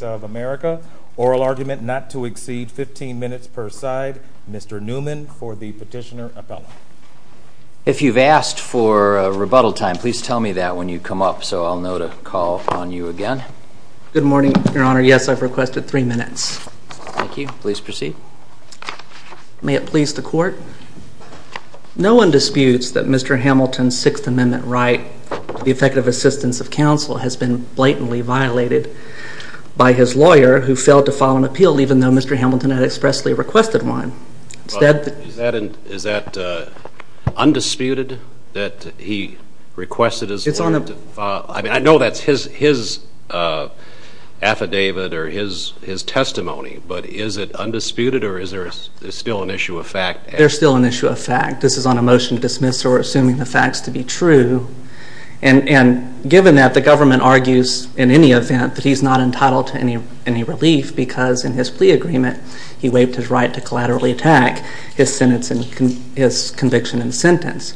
of America. Oral argument not to exceed 15 minutes per side. Mr. Newman for the petitioner appellate. If you've asked for a rebuttal time, please tell me that when you come up so I'll know to call upon you again. Good morning, your honor. Yes, I've requested three minutes. Thank you. Please proceed. May it please the court. No one disputes that Mr. Hamilton's Sixth Amendment right to the effective assistance of counsel has been blatantly violated by his lawyer who failed to file an appeal even though Mr. Hamilton had expressly requested one. Is that undisputed that he requested his lawyer to file an appeal? I know that's his affidavit or his testimony, but is it undisputed or is there still an issue of fact? There's still an issue of fact. This is on a motion to dismiss or assuming the facts to be true and given that the government argues in any event that he's not entitled to any relief because in his plea agreement he waived his right to collaterally attack his conviction and sentence.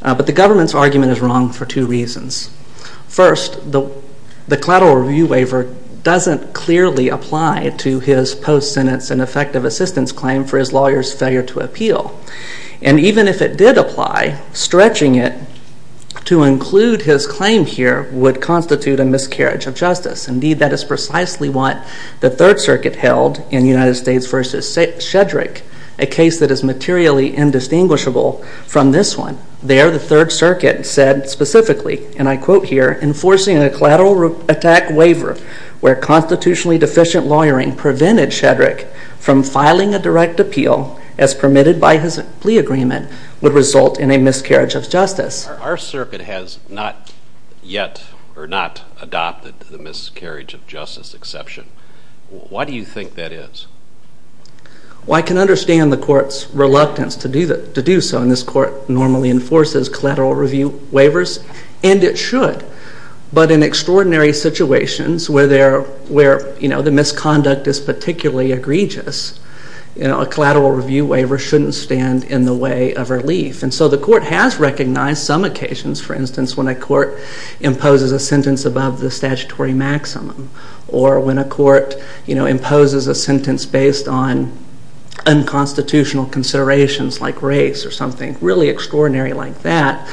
But the government's argument is wrong for two reasons. First, the collateral review waiver doesn't clearly apply to his post-sentence and effective assistance claim for his lawyer's failure to appeal. And even if it did apply, stretching it to include his claim here would constitute a miscarriage of justice. Indeed, that is precisely what the Third Circuit held in United States v. Shedrick, a case that is materially indistinguishable from this one. There, the Third Circuit said specifically, and I quote here, enforcing a collateral attack waiver where constitutionally deficient lawyering prevented Shedrick from filing a direct appeal as permitted by his plea agreement would result in a miscarriage of justice. Our circuit has not yet adopted the miscarriage of justice exception. Why do you think that is? Well, I can understand the court's reluctance to do so and this court normally enforces collateral review waivers and it should. But in extraordinary situations where the misconduct is particularly egregious, you know, a collateral review waiver shouldn't stand in the way of relief. And so the court has recognized some occasions, for instance, when a court imposes a sentence above the statutory maximum or when a court, you know, imposes a sentence based on unconstitutional considerations like race or something really extraordinary like that,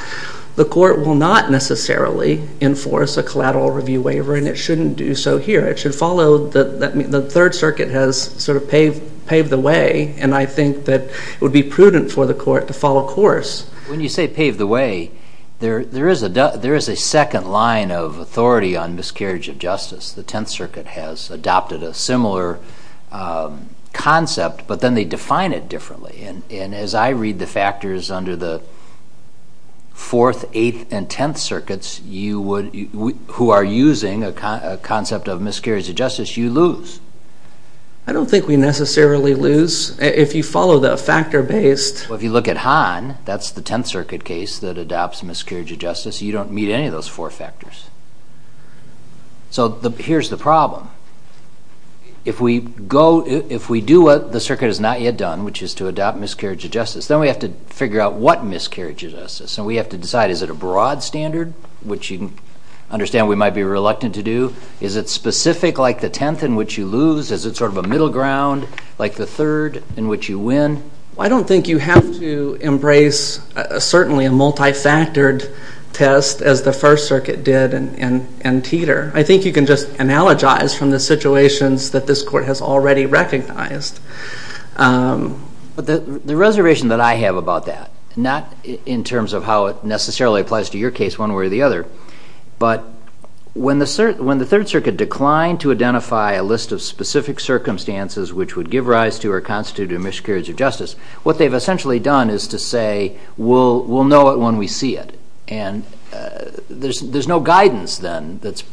the court will not necessarily enforce a collateral review waiver and it shouldn't do so here. It should follow the Third Circuit has sort of paved the way and I think that it would be prudent for the court to follow course. When you say paved the way, there is a second line of authority on miscarriage of justice. The Tenth Circuit has adopted a similar concept, but then they define it differently. And as I read the factors under the Fourth, Eighth, and Tenth Circuits who are using a concept of miscarriage of justice, you lose. I don't think we necessarily lose. If you follow the factor based. If you look at Hahn, that's the Tenth Circuit case that adopts miscarriage of justice, you don't meet any of those four factors. So here's the problem. If we go, if we do what the circuit has not yet done, which is to adopt miscarriage of justice, then we have to figure out what miscarriage of justice. So we have to decide, is it a broad standard, which you can understand we might be reluctant to do? Is it specific like the Tenth in which you lose? Is it sort of a middle ground like the Third in which you win? I don't think you have to embrace certainly a multi-factored test as the First Circuit did in Teeter. I think you can just analogize from the situations that this court has already recognized. But the reservation that I have about that, not in terms of how it necessarily applies to your case one way or the other, but when the Third Circuit declined to miscarriage of justice, what they've essentially done is to say, we'll know it when we see it. And there's no guidance then that's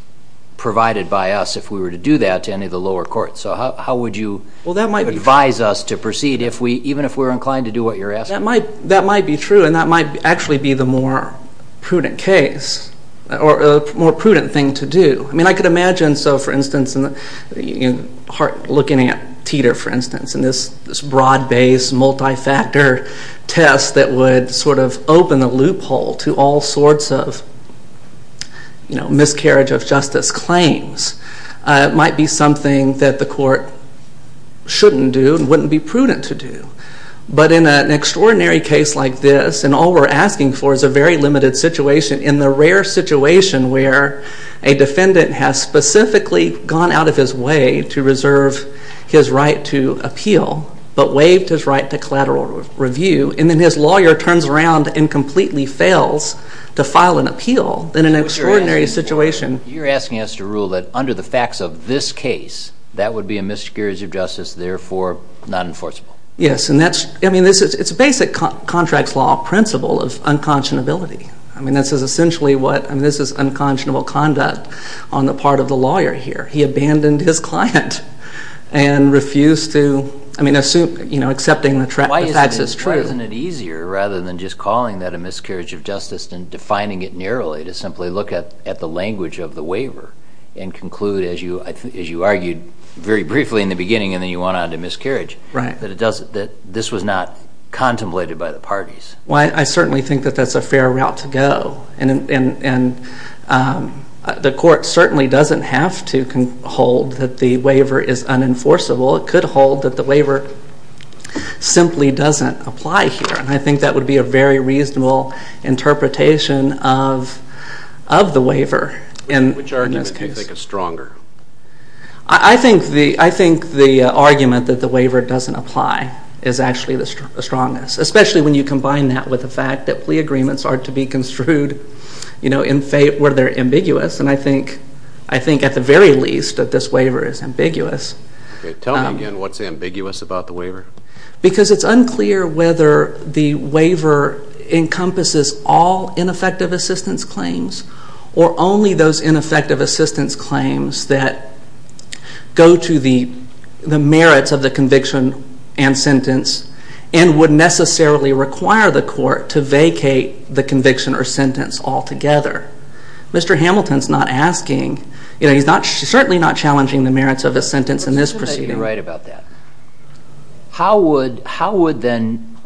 provided by us if we were to do that to any of the lower courts. So how would you advise us to proceed if we, even if we're inclined to do what you're asking? That might be true, and that might actually be the more prudent case, or a more prudent thing to do. I mean, I could imagine, so for instance, in Hart looking at Teeter for instance, and this broad-based multi-factor test that would sort of open a loophole to all sorts of, you know, miscarriage of justice claims, might be something that the court shouldn't do and wouldn't be prudent to do. But in an extraordinary case like this, and all we're asking for is a very limited situation, in the rare situation where a defendant has specifically gone out of his way to reserve his right to appeal, but waived his right to collateral review, and then his lawyer turns around and completely fails to file an appeal, then in an extraordinary situation... You're asking us to rule that under the facts of this case, that would be a miscarriage of justice, therefore not enforceable. Yes, and that's, I mean, this is, it's a basic contracts law principle of unconscionability. I mean, this is essentially what, I mean, this is unconscionable conduct on the part of the lawyer here. He abandoned his client and refused to, I mean, assume, you know, accepting the facts as true. Why isn't it easier, rather than just calling that a miscarriage of justice and defining it narrowly, to simply look at the language of the waiver and conclude, as you argued very briefly in the beginning and then you went on to miscarriage, that this was not contemplated by the parties? Well, I certainly think that that's a fair route to go, and the court certainly doesn't have to hold that the waiver is unenforceable. It could hold that the waiver simply doesn't apply here, and I think that would be a very reasonable interpretation of the waiver in this case. Which argument do you think is stronger? I think the argument that the waiver doesn't apply is actually the strongest, especially when you combine that with the fact that plea agreements are to be construed, you know, where they're ambiguous, and I think, I think at the very least that this waiver is ambiguous. Tell me again, what's ambiguous about the waiver? Because it's unclear whether the waiver encompasses all ineffective assistance claims or only those ineffective assistance claims that go to the merits of the conviction and sentence and would necessarily require the court to vacate the conviction or sentence altogether. Mr. Hamilton's not asking, you know, he's not certainly not challenging the merits of a sentence in this proceeding. You're right about that. How would, how would then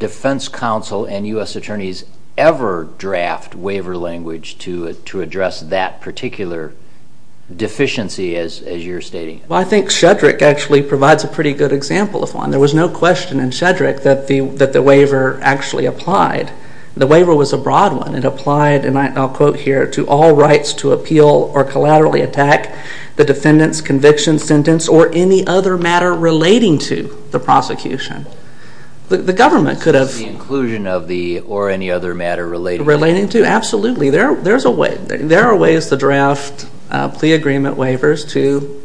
defense counsel and U.S. attorneys ever draft waiver language to address that particular deficiency as you're stating? Well, I think Shedrick actually provides a pretty good example of one. There was no question in Shedrick that the, that the waiver actually applied. The waiver was a broad one. It applied, and I'll quote here, to all rights to appeal or collaterally attack the defendant's conviction, sentence, or any other matter relating to the prosecution. The government could have... The inclusion of the, or any other matter relating... Relating to, absolutely. There, there's a way, there are ways to draft plea agreement waivers to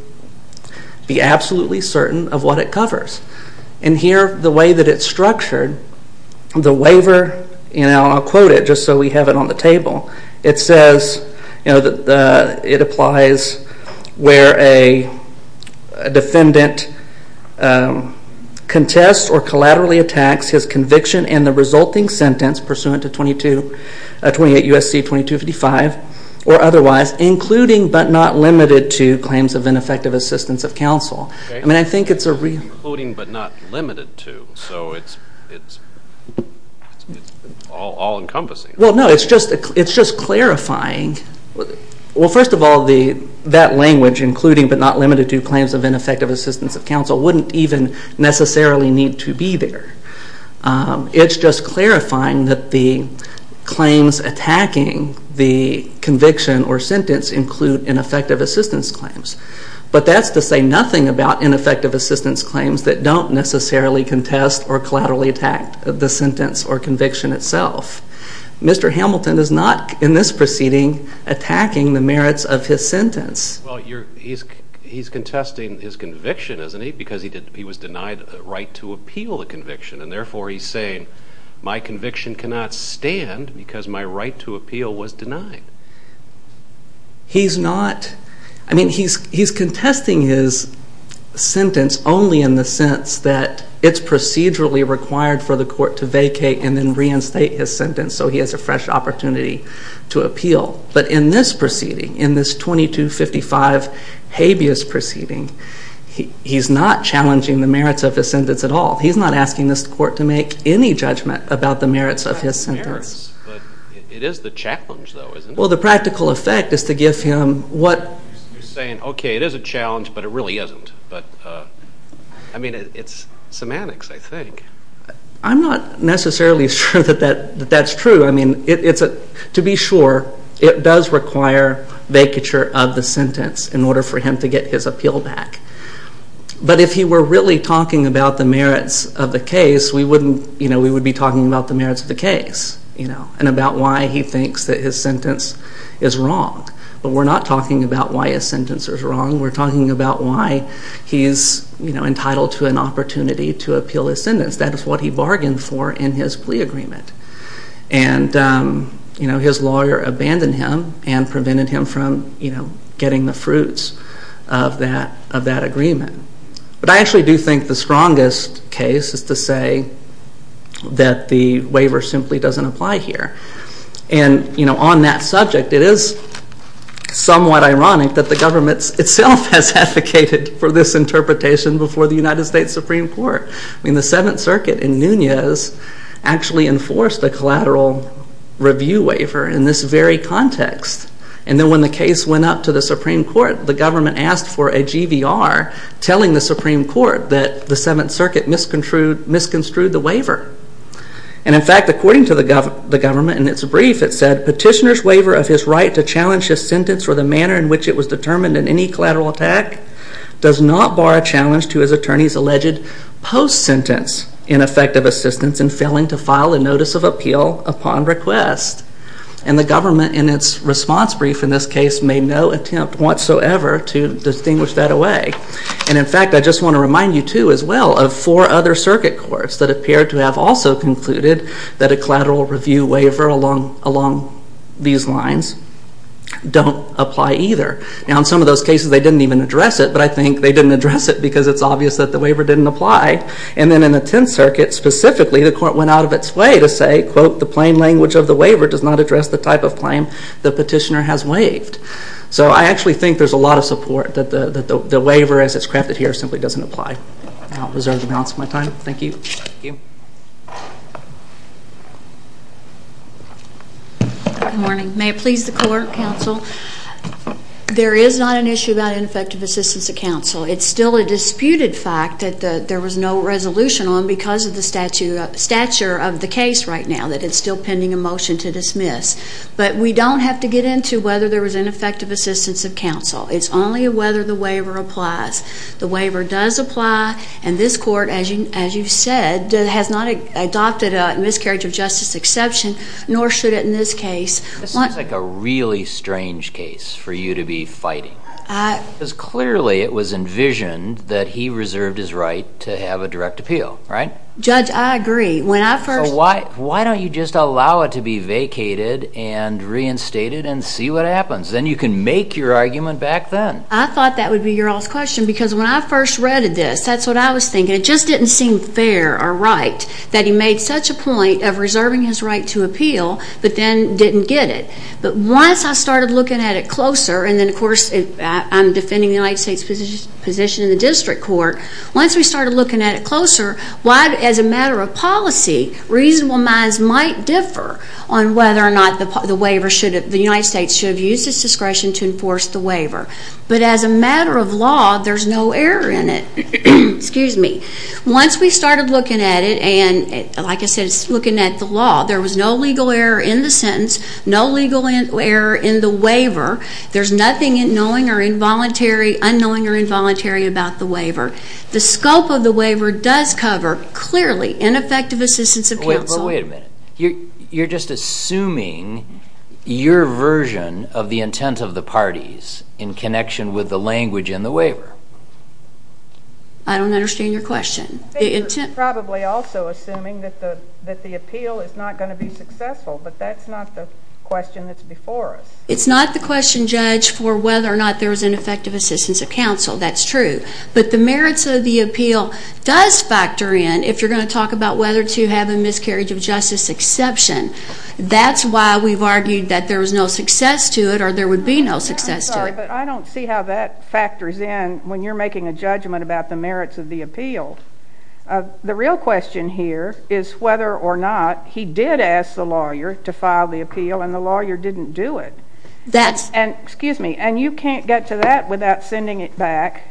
be absolutely certain of what it covers. And here, the way that it's structured, the waiver, you know, and I'll quote it just so we have it on the table. It says, you know, that the, it applies where a defendant contests or collaterally attacks his conviction and the resulting sentence pursuant to 22, 28 U.S.C. 2255 or otherwise, including but not limited to claims of ineffective assistance of counsel. I mean, I think it's a real... Including but not limited to, so it's, it's, it's all encompassing. Well, no, it's just, it's just clarifying. Well, first of all, the, that language, including but not limited to claims of ineffective assistance of counsel, wouldn't even necessarily need to be there. It's just clarifying that the claims attacking the conviction or sentence include ineffective assistance claims. But that's to say nothing about ineffective assistance claims that don't necessarily contest or collaterally attack the sentence or conviction itself. Mr. Hamilton is not, in this proceeding, attacking the merits of his sentence. Well, you're, he's, he's contesting his conviction, isn't he? Because he did, he was denied a right to appeal the conviction. And therefore, he's saying, my conviction cannot stand because my right to appeal was denied. He's not, I mean, he's, he's contesting his sentence only in the sense that it's procedurally required for the court to vacate and then reinstate his sentence so he has a fresh opportunity to appeal. But in this proceeding, in this 2255 habeas proceeding, he, he's not challenging the merits of his sentence at all. He's not asking this court to make any judgment about the merits of his sentence. But it is the challenge, though, isn't it? Well, the practical effect is to give him what... You're saying, okay, it is a challenge, but it really isn't. But, I mean, it's semantics, I think. I'm not necessarily sure that that, that that's true. I mean, it's a, to be sure, it does require vacature of the sentence in order for him to get his appeal back. But if he were really talking about the merits of the case, we wouldn't, you know, we would be talking about the merits of the case, you know, and about why he thinks that his sentence is wrong. But we're not talking about why a sentence is wrong. We're talking about why he is, you know, entitled to an opportunity to appeal his sentence. That is what he bargained for in his plea agreement. And, you know, his lawyer abandoned him and prevented him from, you know, getting the fruits of that, of that agreement. But I actually do think the strongest case is to say that the waiver simply doesn't apply here. And, you know, on that subject, it is somewhat ironic that the government itself has advocated for this interpretation before the United States Supreme Court. I mean, the Seventh Circuit in Nunez actually enforced a collateral review waiver in this very context. And then when the case went up to the Supreme Court, the government asked for a GVR telling the Supreme Court that the Seventh Circuit misconstrued the waiver. And, in fact, according to the government, in its brief, it said, Petitioner's waiver of his right to challenge his sentence for the manner in which it was determined in any collateral attack does not bar a challenge to his attorney's alleged post-sentence ineffective assistance in failing to file a notice of appeal upon request. And the government, in its response brief in this case, made no attempt whatsoever to distinguish that away. And, in fact, I just want to remind you, too, as well, of four other circuit courts that appear to have also concluded that a collateral review waiver along these lines don't apply either. Now, in some of those cases, they didn't even address it. But I think they didn't address it because it's obvious that the waiver didn't apply. And then in the Tenth Circuit, specifically, the court went out of its way to say, quote, the plain language of the waiver does not address the type of claim the petitioner has waived. So I actually think there's a lot of support that the waiver, as it's crafted here, simply doesn't apply. I'll reserve the balance of my time. Thank you. Thank you. Good morning. May it please the court, counsel. There is not an issue about ineffective assistance to counsel. It's still a disputed fact that there was no resolution on because of the stature of the case right now that it's still pending a motion to dismiss. But we don't have to get into whether there was ineffective assistance of counsel. It's only whether the waiver applies. The waiver does apply. And this court, as you've said, has not adopted a miscarriage of justice exception, nor should it in this case. This seems like a really strange case for you to be fighting because clearly it was envisioned that he reserved his right to have a direct appeal, right? Judge, I agree. Why don't you just allow it to be vacated and reinstated and see what happens? Then you can make your argument back then. I thought that would be your last question because when I first read this, that's what I was thinking. It just didn't seem fair or right that he made such a point of reserving his right to appeal, but then didn't get it. But once I started looking at it closer, and then of course I'm defending the United States position in the district court. Once we started looking at it closer, as a matter of policy, reasonable minds might differ on whether or not the waiver should have, the United States should have used its discretion to enforce the waiver. But as a matter of law, there's no error in it. Once we started looking at it, and like I said, looking at the law, there was no legal error in the sentence, no legal error in the waiver. There's nothing knowing or involuntary, unknowing or involuntary about the waiver. The scope of the waiver does cover, clearly, ineffective assistance of counsel. But wait a minute. You're just assuming your version of the intent of the parties in connection with the language in the waiver. I don't understand your question. Probably also assuming that the appeal is not going to be successful, but that's not the question that's before us. It's not the question, Judge, for whether or not there was ineffective assistance of counsel. That's true. But the merits of the appeal does factor in if you're going to talk about whether to have a miscarriage of justice exception. That's why we've argued that there was no success to it or there would be no success to it. I'm sorry, but I don't see how that factors in when you're making a judgment about the merits of the appeal. The real question here is whether or not he did ask the lawyer to file the appeal and the lawyer didn't do it. And you can't get to that without sending it back,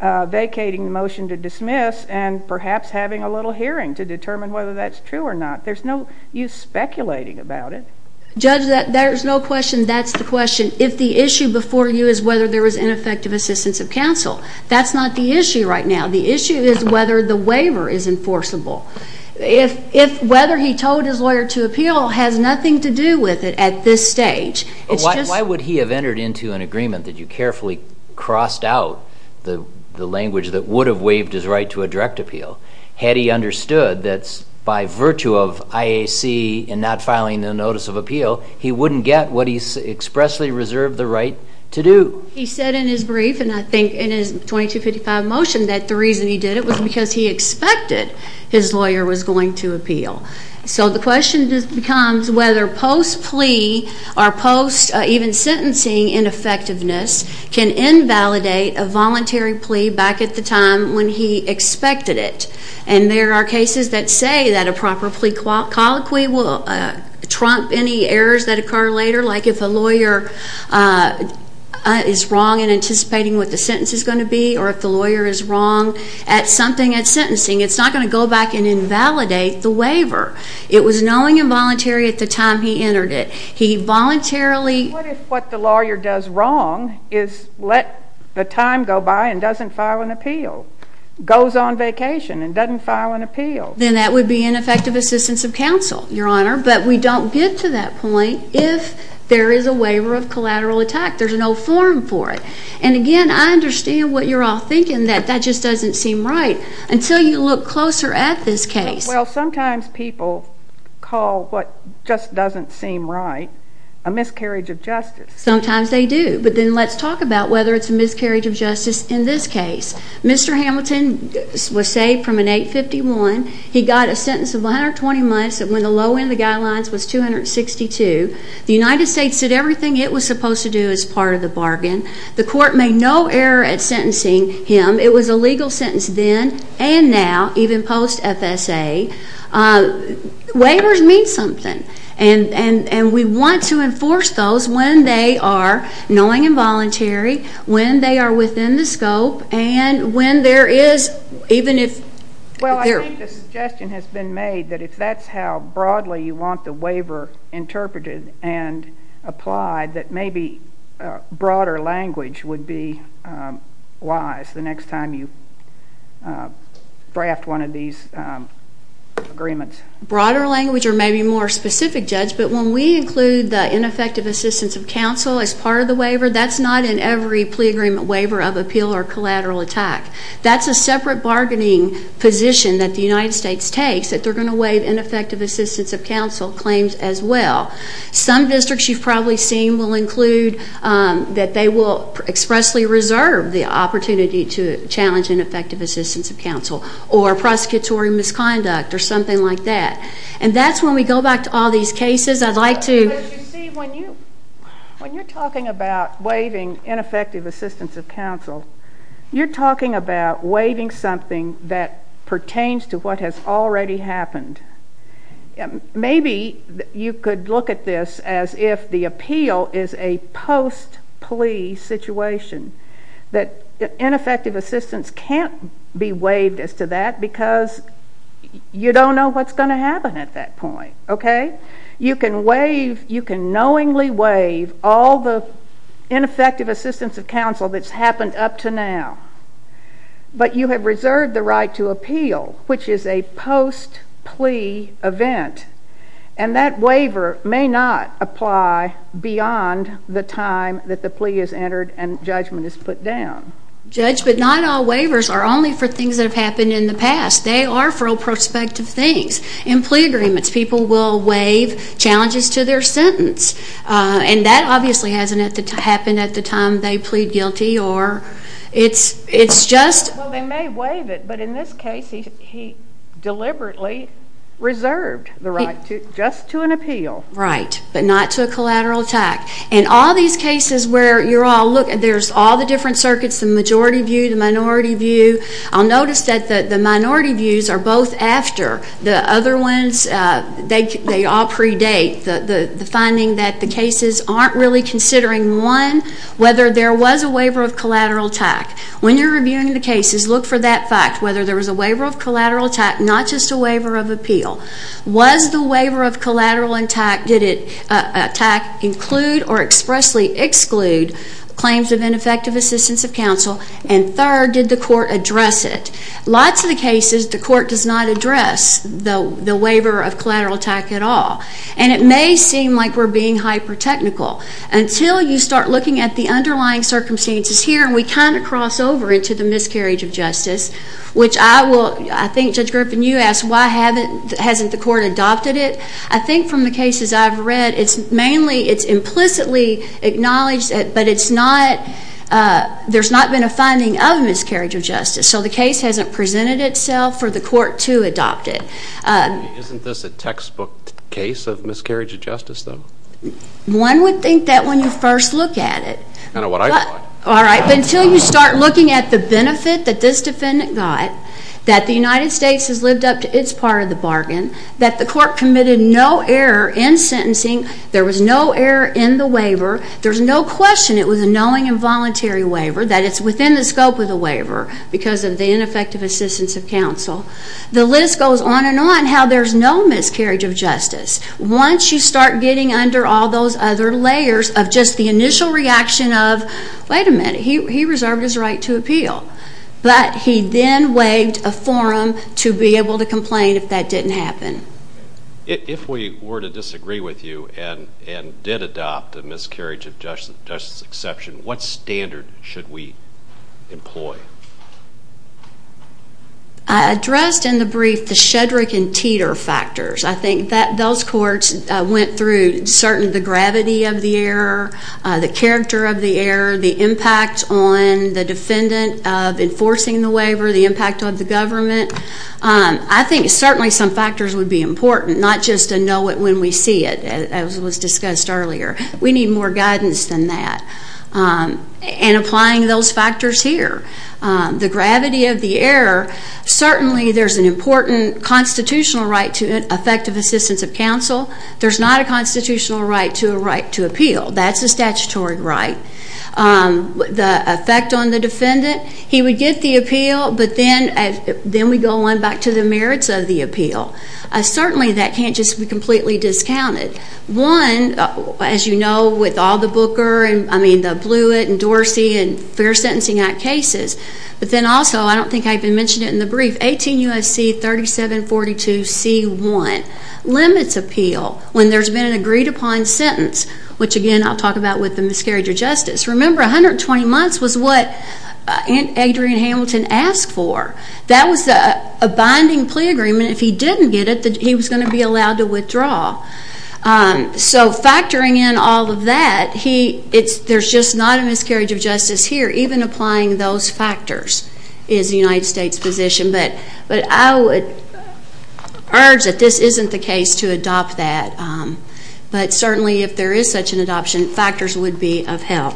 vacating the motion to dismiss, and perhaps having a little hearing to determine whether that's true or not. There's no use speculating about it. Judge, there's no question that's the question. If the issue before you is whether there was ineffective assistance of counsel, that's not the issue right now. The issue is whether the waiver is enforceable. If whether he told his lawyer to appeal has nothing to do with it at this stage. Why would he have entered into an agreement that you carefully crossed out the language that would have waived his right to a direct appeal? Had he understood that by virtue of IAC and not filing the notice of appeal, he wouldn't get what he expressly reserved the right to do. He said in his brief and I think in his 2255 motion that the reason he did it was because he expected his lawyer was going to appeal. So the question just becomes whether post plea or post even sentencing ineffectiveness can invalidate a voluntary plea back at the time when he expected it. And there are cases that say that a proper plea colloquy will trump any errors that occur later, like if a lawyer is wrong in anticipating what the sentence is going to be or if the lawyer is wrong at something at sentencing. It's not going to go back and invalidate the waiver. It was knowing involuntary at the time he entered it. He voluntarily. What if what the lawyer does wrong is let the time go by and doesn't file an appeal, goes on vacation and doesn't file an appeal? Then that would be ineffective assistance of counsel, Your Honor. But we don't get to that point if there is a waiver of collateral attack. There's no forum for it. And again, I understand what you're all thinking that that just doesn't seem right. Until you look closer at this case. Well, sometimes people call what just doesn't seem right a miscarriage of justice. Sometimes they do. But then let's talk about whether it's a miscarriage of justice in this case. Mr. Hamilton was saved from an 851. He got a sentence of 120 months when the low end of the guidelines was 262. The United States did everything it was supposed to do as part of the bargain. The court made no error at sentencing him. It was a legal sentence then and now, even post-FSA. Waivers mean something. And we want to enforce those when they are, knowing involuntary, when they are within the scope, and when there is, even if... Well, I think the suggestion has been made that if that's how broadly you want the waiver interpreted and applied, that maybe broader language would be wise the next time you draft one of these agreements. Broader language or maybe more specific, Judge. But when we include the ineffective assistance of counsel as part of the waiver, that's not in every plea agreement waiver of appeal or collateral attack. That's a separate bargaining position that the United States takes, that they're going to waive ineffective assistance of counsel claims as well. Some districts you've probably seen will include that they will expressly reserve the opportunity to challenge ineffective assistance of counsel or prosecutory misconduct or something like that. And that's when we go back to all these cases. I'd like to... You're talking about waiving something that pertains to what has already happened. Maybe you could look at this as if the appeal is a post-plea situation, that ineffective assistance can't be waived as to that because you don't know what's going to happen at that point, okay? You can waive, you can knowingly waive all the ineffective assistance of counsel that's up to now, but you have reserved the right to appeal, which is a post-plea event. And that waiver may not apply beyond the time that the plea is entered and judgment is put down. Judge, but not all waivers are only for things that have happened in the past. They are for prospective things. In plea agreements, people will waive challenges to their sentence. And that obviously hasn't happened at the time they plead guilty or it's just... Well, they may waive it, but in this case, he deliberately reserved the right just to an appeal. Right, but not to a collateral attack. In all these cases where you're all... Look, there's all the different circuits, the majority view, the minority view. I'll notice that the minority views are both after. The other ones, they all predate the finding that the cases aren't really considering, one, whether there was a waiver of collateral attack. When you're reviewing the cases, look for that fact, whether there was a waiver of collateral attack, not just a waiver of appeal. Was the waiver of collateral attack... Did it attack, include, or expressly exclude claims of ineffective assistance of counsel? And third, did the court address it? Lots of the cases, the court does not address the waiver of collateral attack at all. And it may seem like we're being hyper-technical. Until you start looking at the underlying circumstances here, we kind of cross over into the miscarriage of justice, which I will... I think Judge Griffin, you asked, why hasn't the court adopted it? I think from the cases I've read, it's mainly... It's implicitly acknowledged, but there's not been a finding of miscarriage of justice. So the case hasn't presented itself for the court to adopt it. Isn't this a textbook case of miscarriage of justice, though? One would think that when you first look at it. Kind of what I thought. All right. But until you start looking at the benefit that this defendant got, that the United States has lived up to its part of the bargain, that the court committed no error in sentencing, there was no error in the waiver, there's no question it was a knowing and voluntary waiver, that it's within the scope of the waiver because of the ineffective assistance of counsel. The list goes on and on how there's no miscarriage of justice. Once you start getting under all those other layers of just the initial reaction of, wait a minute, he reserved his right to appeal. But he then waived a forum to be able to complain if that didn't happen. If we were to disagree with you and did adopt a miscarriage of justice exception, what standard should we employ? I addressed in the brief the Shedrick and Teeter factors. I think that those courts went through certainly the gravity of the error, the character of the error, the impact on the defendant of enforcing the waiver, the impact on the government. I think certainly some factors would be important, not just to know it when we see it, as was discussed earlier. We need more guidance than that. And applying those factors here, the gravity of the error, certainly there's an important constitutional right to effective assistance of counsel. There's not a constitutional right to a right to appeal. That's a statutory right. The effect on the defendant, he would get the appeal, but then we go on back to the merits of the appeal. Certainly that can't just be completely discounted. One, as you know, with all the Booker, and I mean the Blewett and Dorsey and Fair Sentencing Act cases, but then also, I don't think I even mentioned it in the brief, 18 U.S.C. 3742 C.1 limits appeal when there's been an agreed upon sentence, which again I'll talk about with the miscarriage of justice. Remember 120 months was what Adrian Hamilton asked for. That was a binding plea agreement. So factoring in all of that, there's just not a miscarriage of justice here. Even applying those factors is the United States' position. But I would urge that this isn't the case to adopt that. But certainly if there is such an adoption, factors would be of help.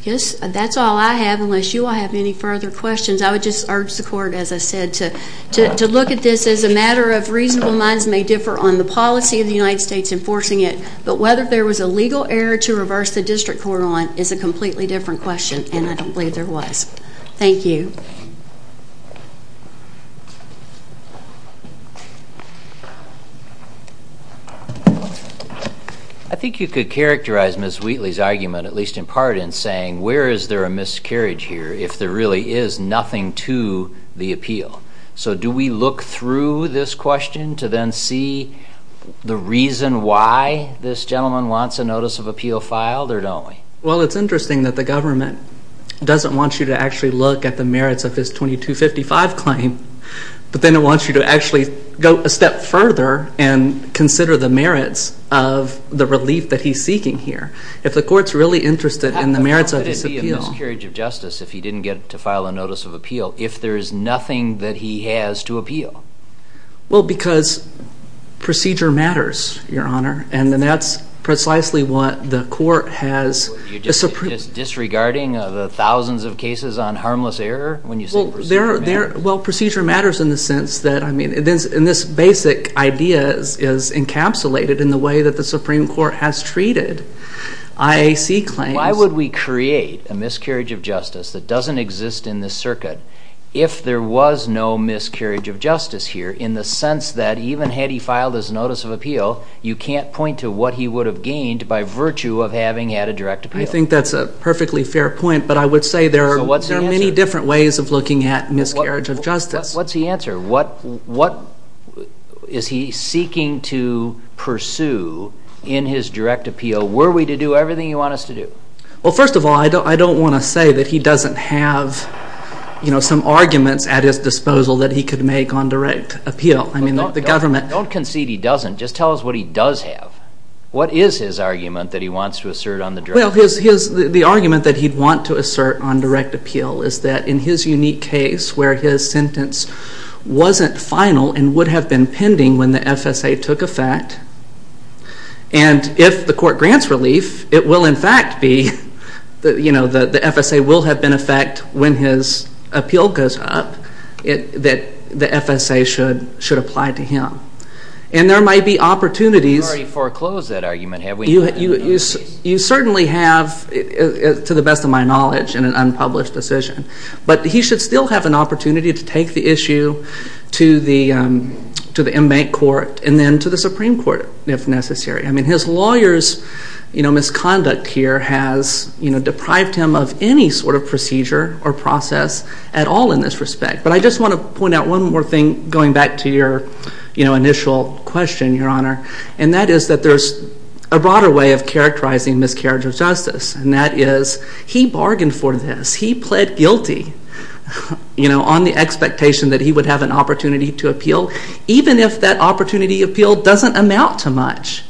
I guess that's all I have, unless you all have any further questions. I would just urge the court, as I said, to look at this as a matter of reasonable minds, may differ on the policy of the United States enforcing it, but whether there was a legal error to reverse the district court on is a completely different question, and I don't believe there was. Thank you. I think you could characterize Ms. Wheatley's argument, at least in part, in saying where is there a miscarriage here if there really is nothing to the appeal. So do we look through this question to then see the reason why this gentleman wants a notice of appeal filed, or don't we? Well, it's interesting that the government doesn't want you to actually look at the merits of his 2255 claim, but then it wants you to actually go a step further and consider the merits of the relief that he's seeking here. If the court's really interested in the merits of his appeal... How could it be a miscarriage of justice if he didn't get to file a notice of appeal if there is nothing that he has to appeal? Well, because procedure matters, Your Honor, and that's precisely what the court has... What, you're just disregarding the thousands of cases on harmless error when you say procedure matters? Well, procedure matters in the sense that, I mean, this basic idea is encapsulated in the way that the Supreme Court has treated IAC claims. Why would we create a miscarriage of justice that doesn't exist in this circuit if there was no miscarriage of justice here, in the sense that even had he filed his notice of appeal, you can't point to what he would have gained by virtue of having had a direct appeal? I think that's a perfectly fair point, but I would say there are many different ways of looking at miscarriage of justice. What's the answer? What is he seeking to pursue in his direct appeal? Were we to do everything you want us to do? Well, first of all, I don't want to say that he doesn't have, you know, some arguments at his disposal that he could make on direct appeal. I mean, the government... Don't concede he doesn't. Just tell us what he does have. What is his argument that he wants to assert on the drug? Well, the argument that he'd want to assert on direct appeal is that in his unique case where his sentence wasn't final and would have been pending when the FSA took effect, and if the court grants relief, it will in fact be, you know, the FSA will have been in effect when his appeal goes up, that the FSA should apply to him. And there might be opportunities... You've already foreclosed that argument, have we? You certainly have, to the best of my knowledge, in an unpublished decision. But he should still have an opportunity to take the issue to the inmate court and then to the Supreme Court, if necessary. I mean, his lawyer's, you know, misconduct here has, you know, deprived him of any sort of procedure or process at all in this respect. But I just want to point out one more thing, going back to your, you know, initial question, Your Honor, and that is that there's a broader way of characterizing miscarriage of justice, and that is he bargained for this. He pled guilty, you know, on the expectation that he would have an opportunity to appeal, even if that opportunity appeal doesn't amount to much.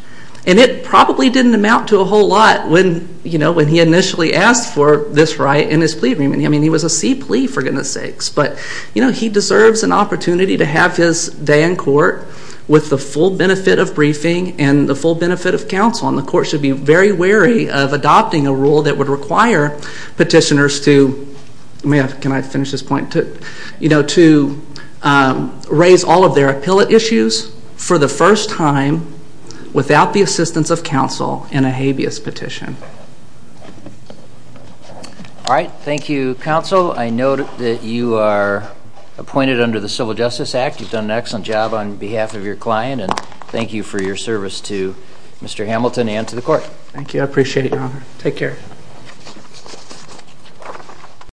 And it probably didn't amount to a whole lot when, you know, when he initially asked for this right in his plea agreement. I mean, he was a C plea, for goodness sakes. But, you know, he deserves an opportunity to have his day in court with the full benefit of briefing and the full benefit of counsel. And the court should be very wary of adopting a rule that would require petitioners to... ...appeal at issues for the first time without the assistance of counsel in a habeas petition. All right. Thank you, counsel. I note that you are appointed under the Civil Justice Act. You've done an excellent job on behalf of your client. And thank you for your service to Mr. Hamilton and to the court. Thank you. I appreciate it, Your Honor. Take care.